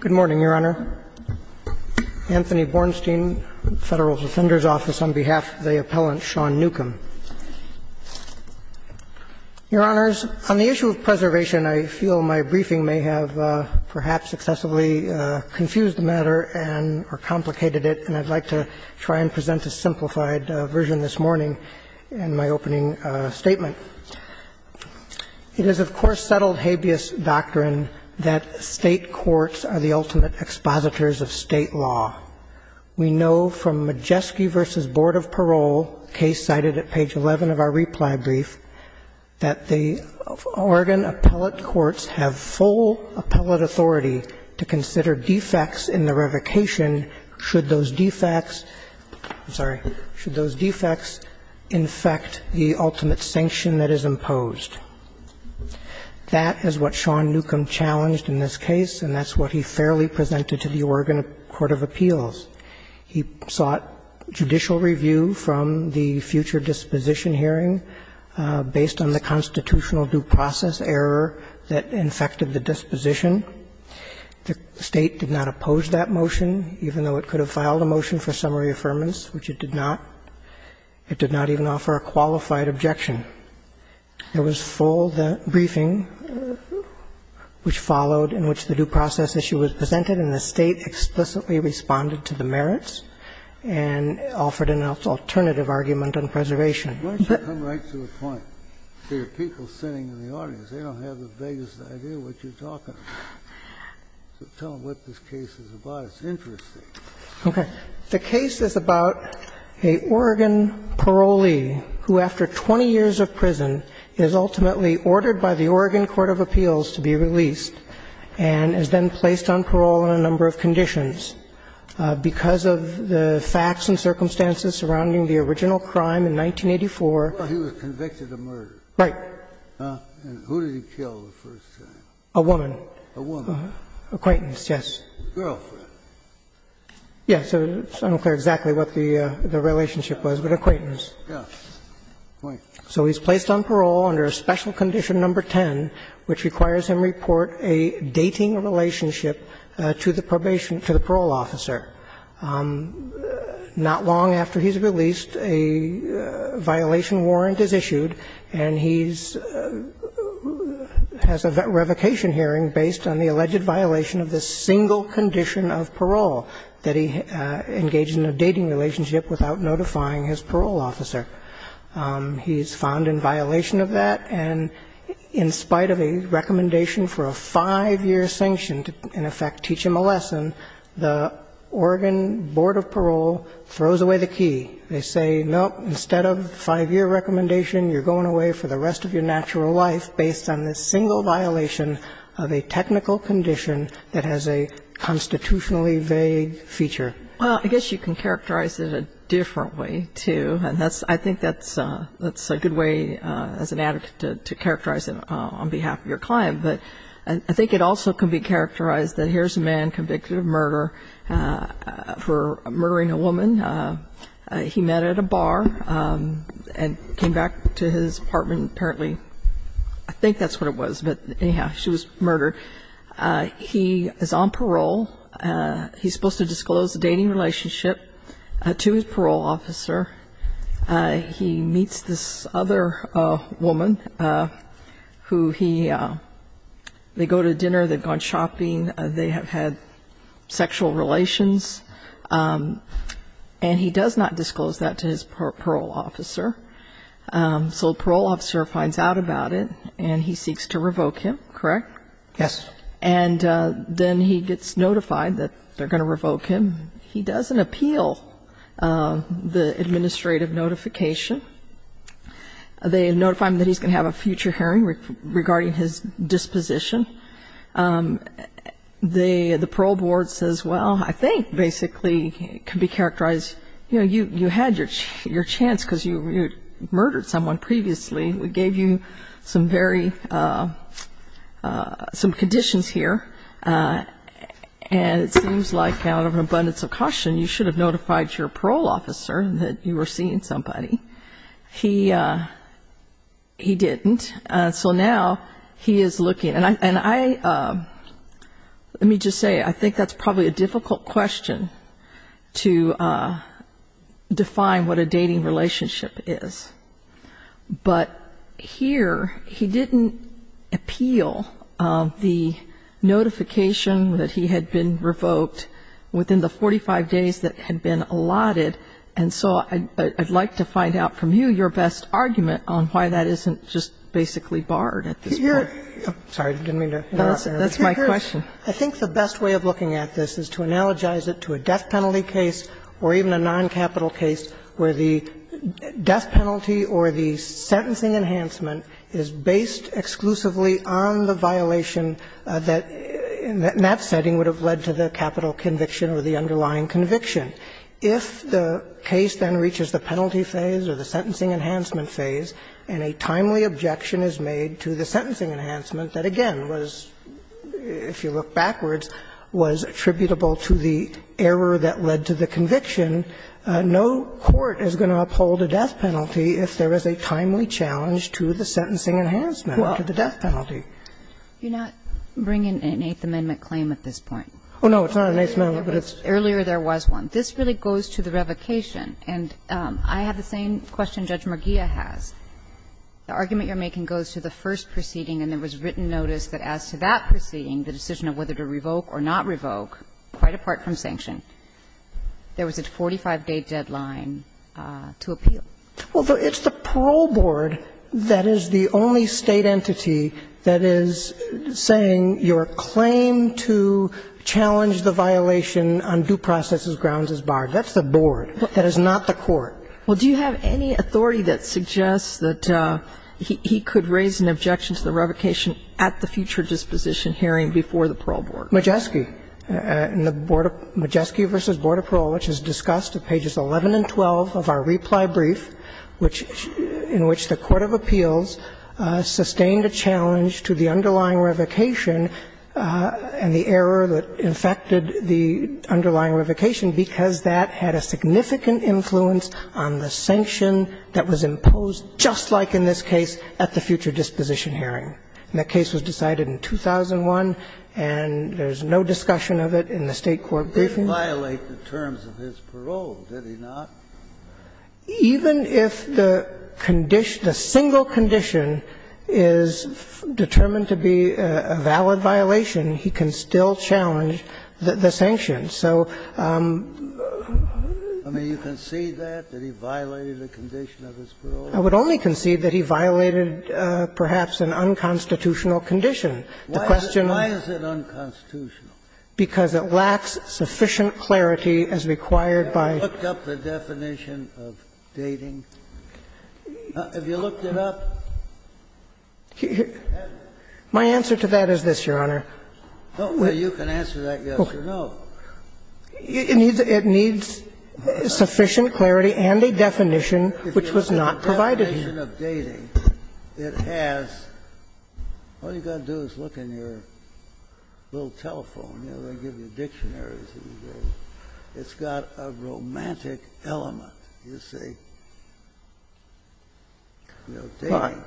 Good morning, Your Honor. Anthony Bornstein, Federal Defender's Office, on behalf of the Appellant Sean Newcomb. Your Honors, on the issue of preservation, I feel my briefing may have perhaps excessively confused the matter and or complicated it, and I'd like to try and present a simplified version this morning in my opening statement. It is, of course, settled habeas doctrine that State courts are the ultimate expositors of State law. We know from Majeski v. Board of Parole, case cited at page 11 of our reply brief, that the Oregon appellate courts have full appellate authority to consider defects in the revocation should those defects – I'm sorry – should those defects infect the ultimate sanction that is imposed. That is what Sean Newcomb challenged in this case, and that's what he fairly presented to the Oregon Court of Appeals. He sought judicial review from the future disposition hearing based on the constitutional due process error that infected the disposition. The State did not oppose that motion, even though it could have filed a motion for summary affirmance, which it did not. It did not even offer a qualified objection. There was full briefing, which followed in which the due process issue was presented, and the State explicitly responded to the merits and offered an alternative argument on preservation. Kennedy. Why don't you come right to the point? There are people sitting in the audience. They don't have the vaguest idea what you're talking about. So tell them what this case is about. It's interesting. Okay. The case is about an Oregon parolee who, after 20 years of prison, is ultimately ordered by the Oregon Court of Appeals to be released and is then placed on parole on a number of conditions. Because of the facts and circumstances surrounding the original crime in 1984. Well, he was convicted of murder. Right. And who did he kill the first time? A woman. A woman? An acquaintance, yes. A girlfriend. Yes. It's unclear exactly what the relationship was, but acquaintance. Yes. So he's placed on parole under a special condition number 10, which requires him to report a dating relationship to the probation to the parole officer. Not long after he's released, a violation warrant is issued, and he's has a revocation hearing based on the alleged violation of the single condition of parole, that he engaged in a dating relationship without notifying his parole officer. He's found in violation of that, and in spite of a recommendation for a five-year sanction to, in effect, teach him a lesson, the Oregon Board of Parole throws away the key. They say, no, instead of a five-year recommendation, you're going away for the rest of your natural life based on this single violation of a technical condition that has a constitutionally vague feature. Well, I guess you can characterize it a different way, too, and I think that's a good way, as an advocate, to characterize it on behalf of your client. But I think it also can be characterized that here's a man convicted of murder for murdering a woman. He met at a bar and came back to his apartment, apparently. I think that's what it was, but anyhow, she was murdered. He is on parole. He's supposed to disclose the dating relationship to his parole officer. He meets this other woman, who he, they go to dinner, they've gone shopping, they have had sexual relations. And he does not disclose that to his parole officer. So the parole officer finds out about it, and he seeks to revoke him, correct? Yes. And then he gets notified that they're going to revoke him. He doesn't appeal the administrative notification. They notify him that he's going to have a future hearing regarding his disposition. The parole board says, well, I think, basically, it can be characterized, you know, you had your chance because you murdered someone previously. We gave you some conditions here, and it seems like out of an abundance of caution, you should have notified your parole officer that you were seeing somebody. He didn't. So now he is looking, and I, let me just say, I think that's probably a difficult question to define what a dating relationship is. But here, he didn't appeal the notification that he had been revoked within the 45 days that had been allotted. And so I'd like to find out from you, your best argument on why that isn't just basically barred at this point. I'm sorry. I didn't mean to interrupt. That's my question. I think the best way of looking at this is to analogize it to a death penalty case or even a noncapital case where the death penalty or the sentencing enhancement is based exclusively on the violation that, in that setting, would have led to the capital conviction or the underlying conviction. If the case then reaches the penalty phase or the sentencing enhancement phase, and a timely objection is made to the sentencing enhancement that, again, was, if you look backwards, was attributable to the error that led to the conviction, no court is going to uphold a death penalty if there is a timely challenge to the sentencing enhancement, to the death penalty. You're not bringing an Eighth Amendment claim at this point. Oh, no, it's not an Eighth Amendment, but it's an Eighth Amendment. Earlier there was one. This really goes to the revocation. And I have the same question Judge McGeer has. The argument you're making goes to the first proceeding, and there was written notice that as to that proceeding, the decision of whether to revoke or not revoke, quite apart from sanction, there was a 45-day deadline to appeal. Well, it's the parole board that is the only State entity that is saying your claim to challenge the violation on due process grounds is barred. That's the board. That is not the court. Well, do you have any authority that suggests that he could raise an objection to the revocation at the future disposition hearing before the parole board? Majeski. In the Majeski v. Board of Parole, which is discussed at pages 11 and 12 of our reply brief, in which the court of appeals sustained a challenge to the underlying revocation and the error that infected the underlying revocation, because that had a significant influence on the sanction that was imposed, just like in this case, at the future disposition hearing. And the case was decided in 2001, and there's no discussion of it in the State court briefing. It didn't violate the terms of his parole, did it not? Even if the condition, the single condition is determined to be a valid violation, he can still challenge the sanctions. So you concede that, that he violated a condition of his parole? I would only concede that he violated perhaps an unconstitutional condition. The question of why is it unconstitutional? Because it lacks sufficient clarity as required by. Have you looked up the definition of dating? Have you looked it up? My answer to that is this, Your Honor. Well, you can answer that yes or no. It needs sufficient clarity and a definition which was not provided to you. If you look at the definition of dating, it has. All you've got to do is look in your little telephone. They give you dictionaries. It's got a romantic element, you see. You know, dating.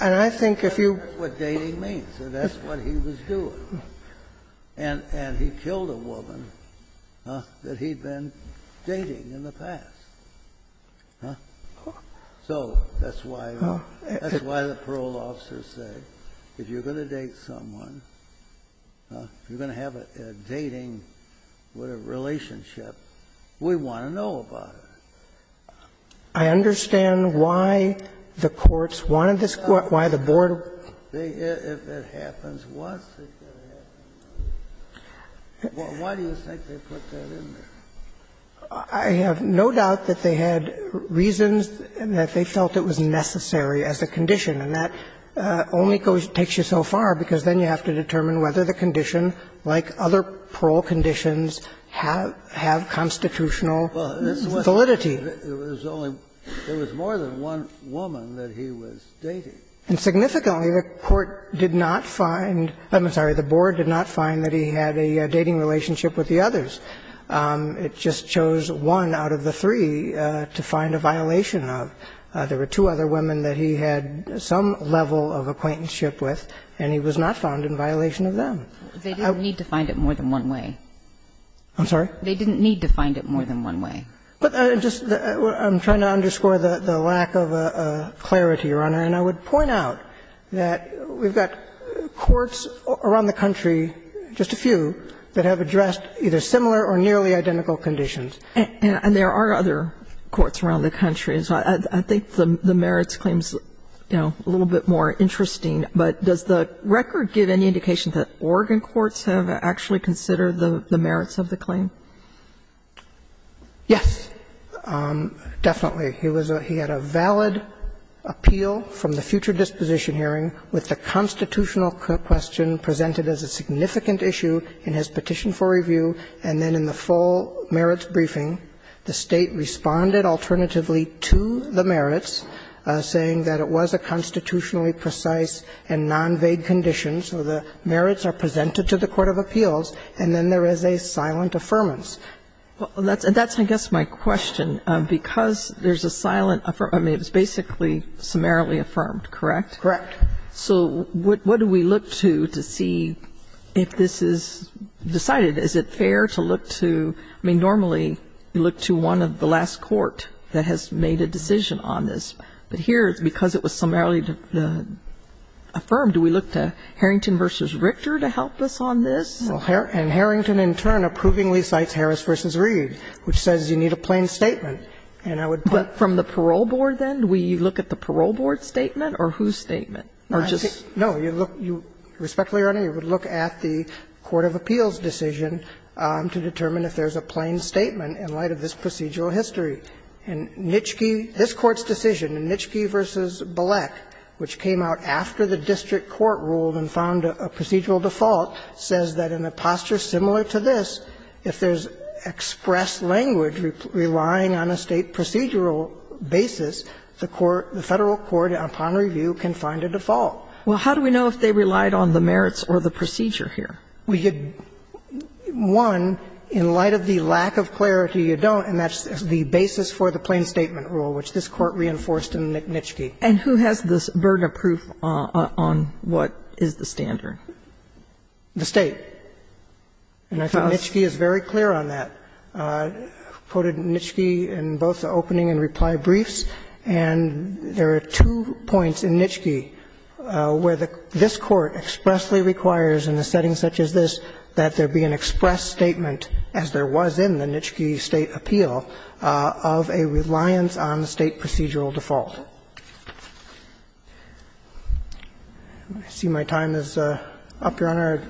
And I think if you. That's what dating means. That's what he was doing. And he killed a woman that he'd been dating in the past. So that's why the parole officer said, if you're going to date someone, if you're going to have a dating relationship, we want to know about it. I understand why the courts wanted this. Why the board. If it happens once, it could happen twice. Why do you think they put that in there? I have no doubt that they had reasons and that they felt it was necessary as a condition. And that only takes you so far because then you have to determine whether the condition, like other parole conditions, have constitutional validity. It was more than one woman that he was dating. And significantly, the court did not find, I'm sorry, the board did not find that he had a dating relationship with the others. It just chose one out of the three to find a violation of. There were two other women that he had some level of acquaintanceship with, and he was not found in violation of them. They didn't need to find it more than one way. I'm sorry? They didn't need to find it more than one way. I'm trying to underscore the lack of clarity, Your Honor. And I would point out that we've got courts around the country, just a few, that have addressed either similar or nearly identical conditions. And there are other courts around the country. And so I think the merits claims, you know, a little bit more interesting. But does the record give any indication that Oregon courts have actually considered the merits of the claim? Yes, definitely. He was a he had a valid appeal from the future disposition hearing with the constitutional question presented as a significant issue in his petition for review. And then in the full merits briefing, the State responded alternatively to the merits saying that it was a constitutionally precise and non-vague condition. So the merits are presented to the court of appeals, and then there is a silent affirmance. Well, that's I guess my question. Because there's a silent affirmance, I mean, it's basically summarily affirmed, correct? Correct. So what do we look to to see if this is decided? Is it fair to look to, I mean, normally you look to one of the last court that has made a decision on this. But here, because it was summarily affirmed, do we look to Harrington v. Richter to help us on this? And Harrington in turn approvingly cites Harris v. Reed, which says you need a plain statement. But from the parole board then, do we look at the parole board statement or whose statement? Or just? No. You look, you, respectfully, Your Honor, you would look at the court of appeals decision to determine if there's a plain statement in light of this procedural history. And Nitschke, this Court's decision, Nitschke v. Bilek, which came out after the district court ruled and found a procedural default, says that in a posture similar to this, if there's expressed language relying on a State procedural basis, the court, the Federal court upon review can find a default. Well, how do we know if they relied on the merits or the procedure here? We could, one, in light of the lack of clarity, you don't, and that's the basis for the plain statement rule, which this Court reinforced in Nitschke. And who has this burden of proof on what is the standard? The State. And I think Nitschke is very clear on that. Quoted Nitschke in both the opening and reply briefs. And there are two points in Nitschke where this Court expressly requires in a setting such as this that there be an expressed statement, as there was in the Nitschke State appeal, of a reliance on the State procedural default. I see my time is up, Your Honor.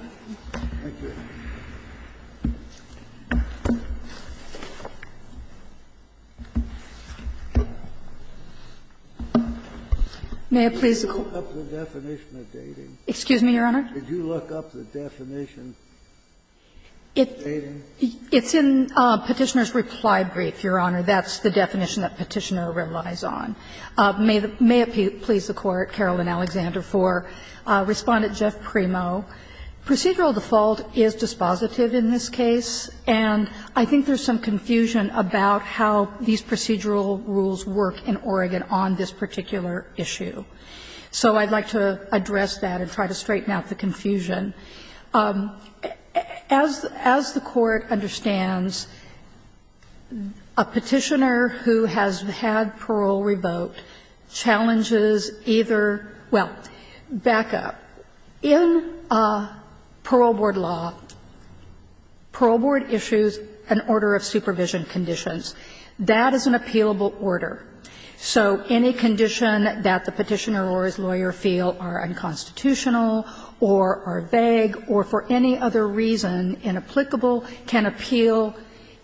Thank you. May it please the Court? Did you look up the definition of dating? Excuse me, Your Honor? Did you look up the definition of dating? It's in Petitioner's reply brief, Your Honor. That's the definition that Petitioner relies on. May it please the Court, Carolyn Alexander, for Respondent Jeff Primo. Procedural default is dispositive in this case, and I think there's some confusion about how these procedural rules work in Oregon on this particular issue. So I'd like to address that and try to straighten out the confusion. As the Court understands, a Petitioner who has had parole revoked is a person who has had parole revoked challenges either – well, back up. In parole board law, parole board issues an order of supervision conditions. That is an appealable order. So any condition that the Petitioner or his lawyer feel are unconstitutional or are vague or for any other reason inapplicable can appeal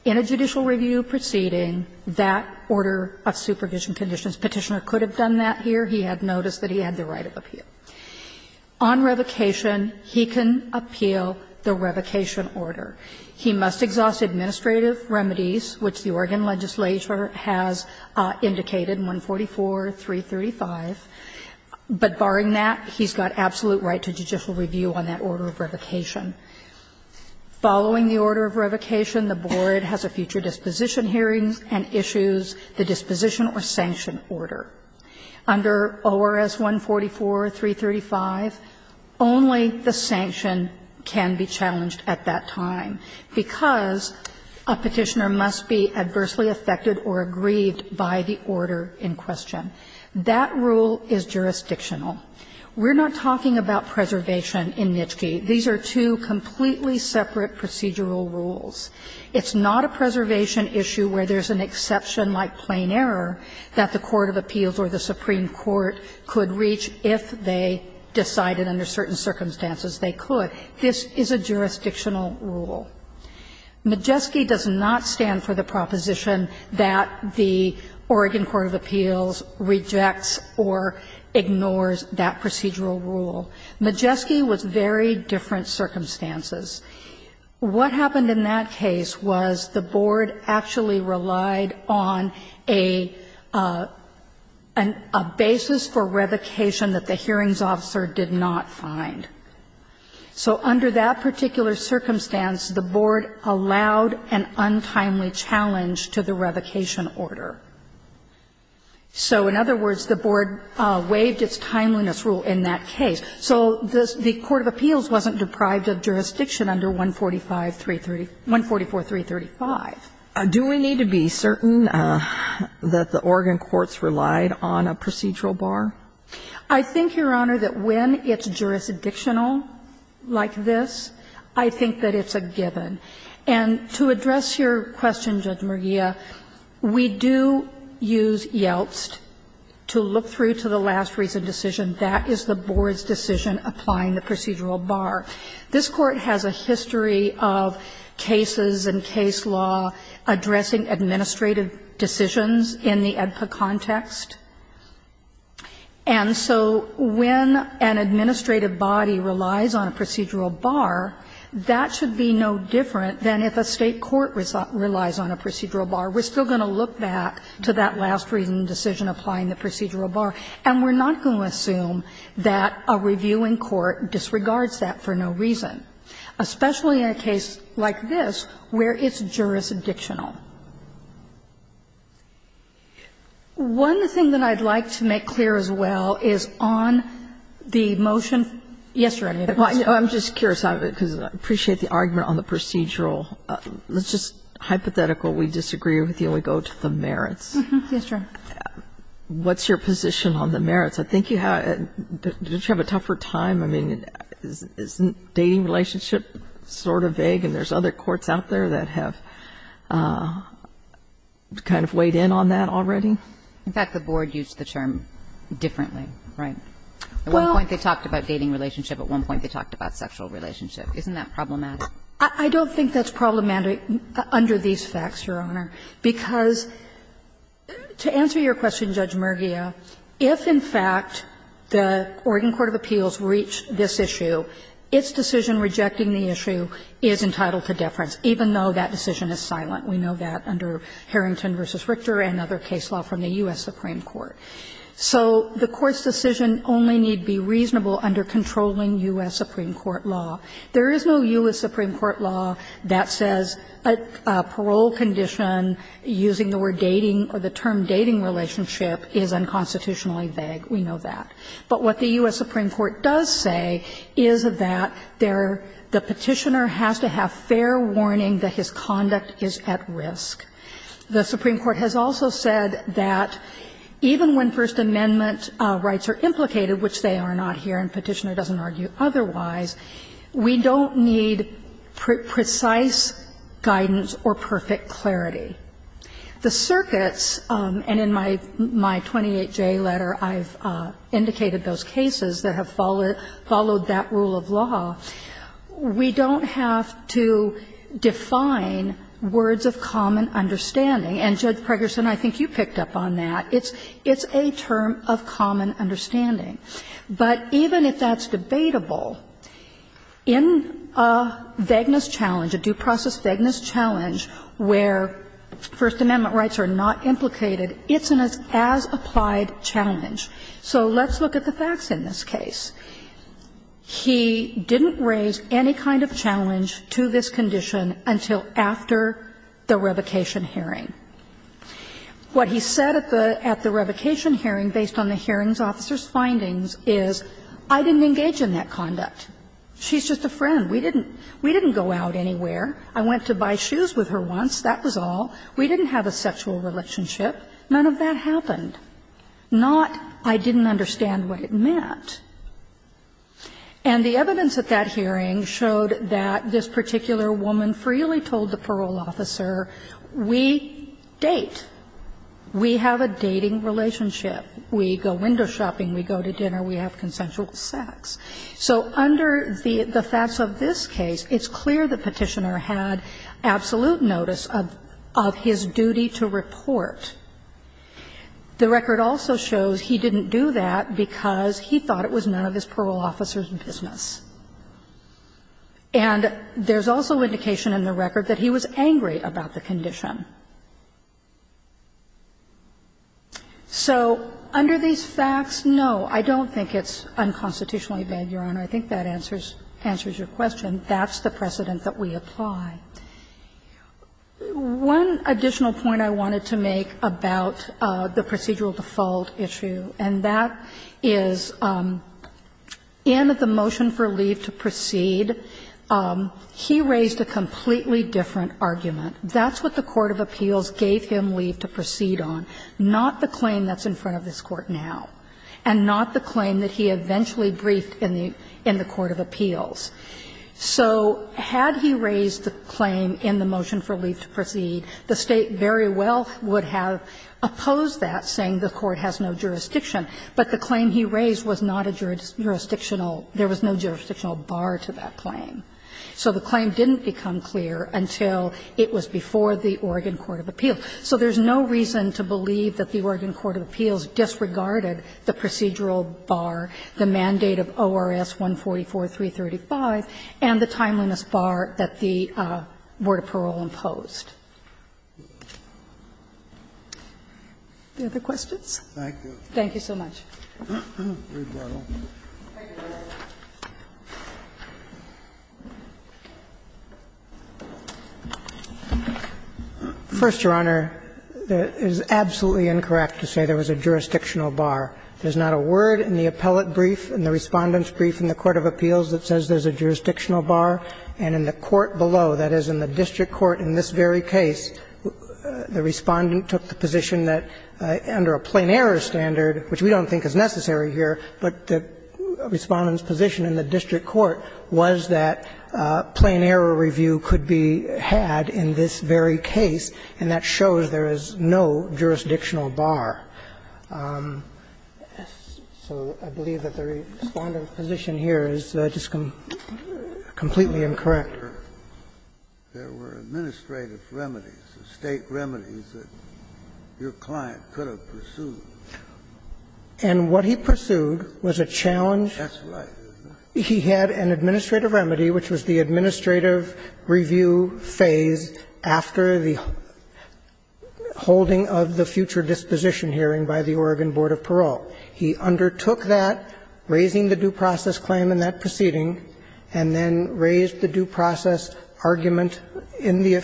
in a judicial review proceeding that order of supervision conditions. Petitioner could have done that here. He had noticed that he had the right of appeal. On revocation, he can appeal the revocation order. He must exhaust administrative remedies, which the Oregon legislature has indicated, 144, 335. But barring that, he's got absolute right to judicial review on that order of revocation. Following the order of revocation, the board has a future disposition hearing and issues the disposition or sanction order. Under ORS 144, 335, only the sanction can be challenged at that time, because a Petitioner must be adversely affected or aggrieved by the order in question. That rule is jurisdictional. We're not talking about preservation in NHTSA. These are two completely separate procedural rules. It's not a preservation issue where there's an exception like plain error that the court of appeals or the Supreme Court could reach if they decided under certain circumstances they could. This is a jurisdictional rule. Majeski does not stand for the proposition that the Oregon court of appeals rejects or ignores that procedural rule. Majeski was very different circumstances. What happened in that case was the board actually relied on a basis for revocation that the hearings officer did not find. So under that particular circumstance, the board allowed an untimely challenge to the revocation order. So in other words, the board waived its timeliness rule in that case. So the court of appeals wasn't deprived of jurisdiction under 144-335. Do we need to be certain that the Oregon courts relied on a procedural bar? I think, Your Honor, that when it's jurisdictional like this, I think that it's a given. And to address your question, Judge Mergia, we do use Yeltsed to look through to the last reason decision. That is the board's decision applying the procedural bar. This Court has a history of cases and case law addressing administrative decisions in the AEDPA context. And so when an administrative body relies on a procedural bar, that should be no different than if a State court relies on a procedural bar. We're still going to look back to that last reason decision applying the procedural bar, and we're not going to assume that a reviewing court disregards that for no reason, especially in a case like this where it's jurisdictional. One thing that I'd like to make clear as well is on the motion. Yes, Your Honor. I'm just curious, because I appreciate the argument on the procedural. Let's just hypothetical. We disagree with you and we go to the merits. Yes, Your Honor. What's your position on the merits? I think you have to have a tougher time. I mean, isn't dating relationship sort of vague, and there's other courts out there that have kind of weighed in on that already? In fact, the board used the term differently, right? At one point, they talked about dating relationship. At one point, they talked about sexual relationship. Isn't that problematic? I don't think that's problematic under these facts, Your Honor. Because to answer your question, Judge Mergia, if in fact the Oregon Court of Appeals reached this issue, its decision rejecting the issue is entitled to deference, even though that decision is silent. We know that under Harrington v. Richter and other case law from the U.S. Supreme Court. So the Court's decision only need be reasonable under controlling U.S. Supreme Court law. There is no U.S. Supreme Court law that says a parole condition using the word dating or the term dating relationship is unconstitutionally vague. We know that. But what the U.S. Supreme Court does say is that the Petitioner has to have fair warning that his conduct is at risk. The Supreme Court has also said that even when First Amendment rights are implicated, which they are not here and Petitioner doesn't argue otherwise, we don't need precise guidance or perfect clarity. The circuits, and in my 28J letter, I've indicated those cases that have followed that rule of law, we don't have to define words of common understanding. And, Judge Pregerson, I think you picked up on that. It's a term of common understanding. But even if that's debatable, in a vagueness challenge, a due process vagueness challenge where First Amendment rights are not implicated, it's an as-applied challenge. So let's look at the facts in this case. He didn't raise any kind of challenge to this condition until after the revocation hearing. What he said at the revocation hearing based on the hearing officer's findings is, I didn't engage in that conduct. She's just a friend. We didn't go out anywhere. I went to buy shoes with her once, that was all. We didn't have a sexual relationship. None of that happened. Not, I didn't understand what it meant. And the evidence at that hearing showed that this particular woman freely told the defendant that she was going to have a date. We have a dating relationship. We go window shopping. We go to dinner. We have consensual sex. So under the facts of this case, it's clear the Petitioner had absolute notice of his duty to report. The record also shows he didn't do that because he thought it was none of his parole officer's business. And there's also indication in the record that he was angry about the condition. So under these facts, no, I don't think it's unconstitutionally bad, Your Honor. I think that answers your question. That's the precedent that we apply. One additional point I wanted to make about the procedural default issue, and that is in the motion for leave to proceed, he raised a completely different argument. That's what the court of appeals gave him leave to proceed on, not the claim that's in front of this Court now and not the claim that he eventually briefed in the court of appeals. So had he raised the claim in the motion for leave to proceed, the State very well would have opposed that, saying the court has no jurisdiction. But the claim he raised was not a jurisdictional – there was no jurisdictional bar to that claim. So the claim didn't become clear until it was before the Oregon court of appeals. So there's no reason to believe that the Oregon court of appeals disregarded the procedural bar, the mandate of ORS 144-335, and the timeliness bar that the board of parole imposed. Any other questions? Thank you so much. First, Your Honor, it is absolutely incorrect to say there was a jurisdictional bar. There's not a word in the appellate brief, in the Respondent's brief in the court of appeals, that says there's a jurisdictional bar, and in the court below, that is, in the district court in this very case, the Respondent took the position that under a plain error standard, which we don't think is necessary here, but the Respondent's position in the district court was that plain error review could be had in this very case, and that shows there is no jurisdictional bar. So I believe that the Respondent's position here is just completely incorrect. There were administrative remedies, state remedies that your client could have pursued. And what he pursued was a challenge. That's right. He had an administrative remedy, which was the administrative review phase after the holding of the future disposition hearing by the Oregon board of parole. He undertook that, raising the due process claim in that proceeding, and then raised the due process argument in the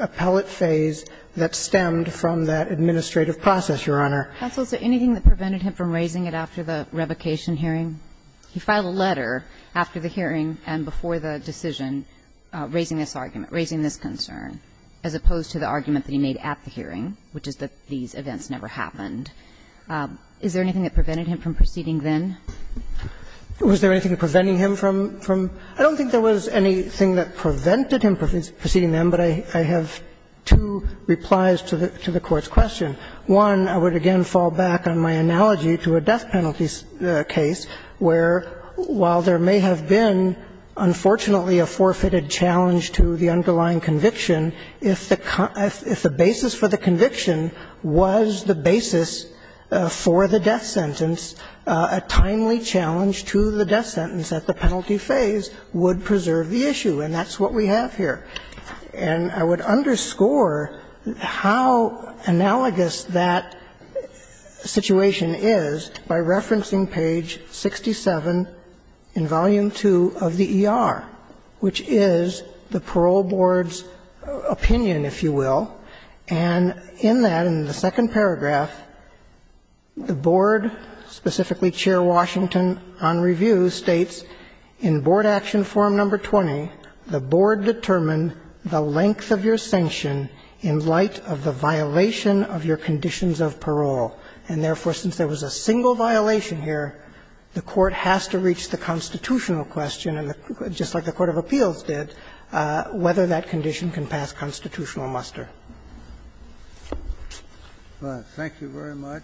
appellate phase that stemmed from that administrative process, Your Honor. Counsel, is there anything that prevented him from raising it after the revocation hearing? He filed a letter after the hearing and before the decision, raising this argument, raising this concern, as opposed to the argument that he made at the hearing, which is that these events never happened. Is there anything that prevented him from proceeding then? Was there anything preventing him from? I don't think there was anything that prevented him from proceeding then, but I have two replies to the Court's question. One, I would again fall back on my analogy to a death penalty case where, while there may have been, unfortunately, a forfeited challenge to the underlying conviction, if the basis for the conviction was the basis for the death sentence, a timely challenge to the death sentence at the penalty phase would preserve the issue, and that's what we have here. And I would underscore how analogous that situation is by referencing page 67 in volume 2 of the ER, which is the parole board's opinion, if you will, and in that, in the board action form number 20, the board determined the length of your sanction in light of the violation of your conditions of parole. And therefore, since there was a single violation here, the Court has to reach the constitutional question, and just like the court of appeals did, whether that condition can pass constitutional muster. Thank you very much.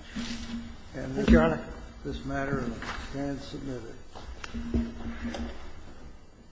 And this is the matter and stands submitted.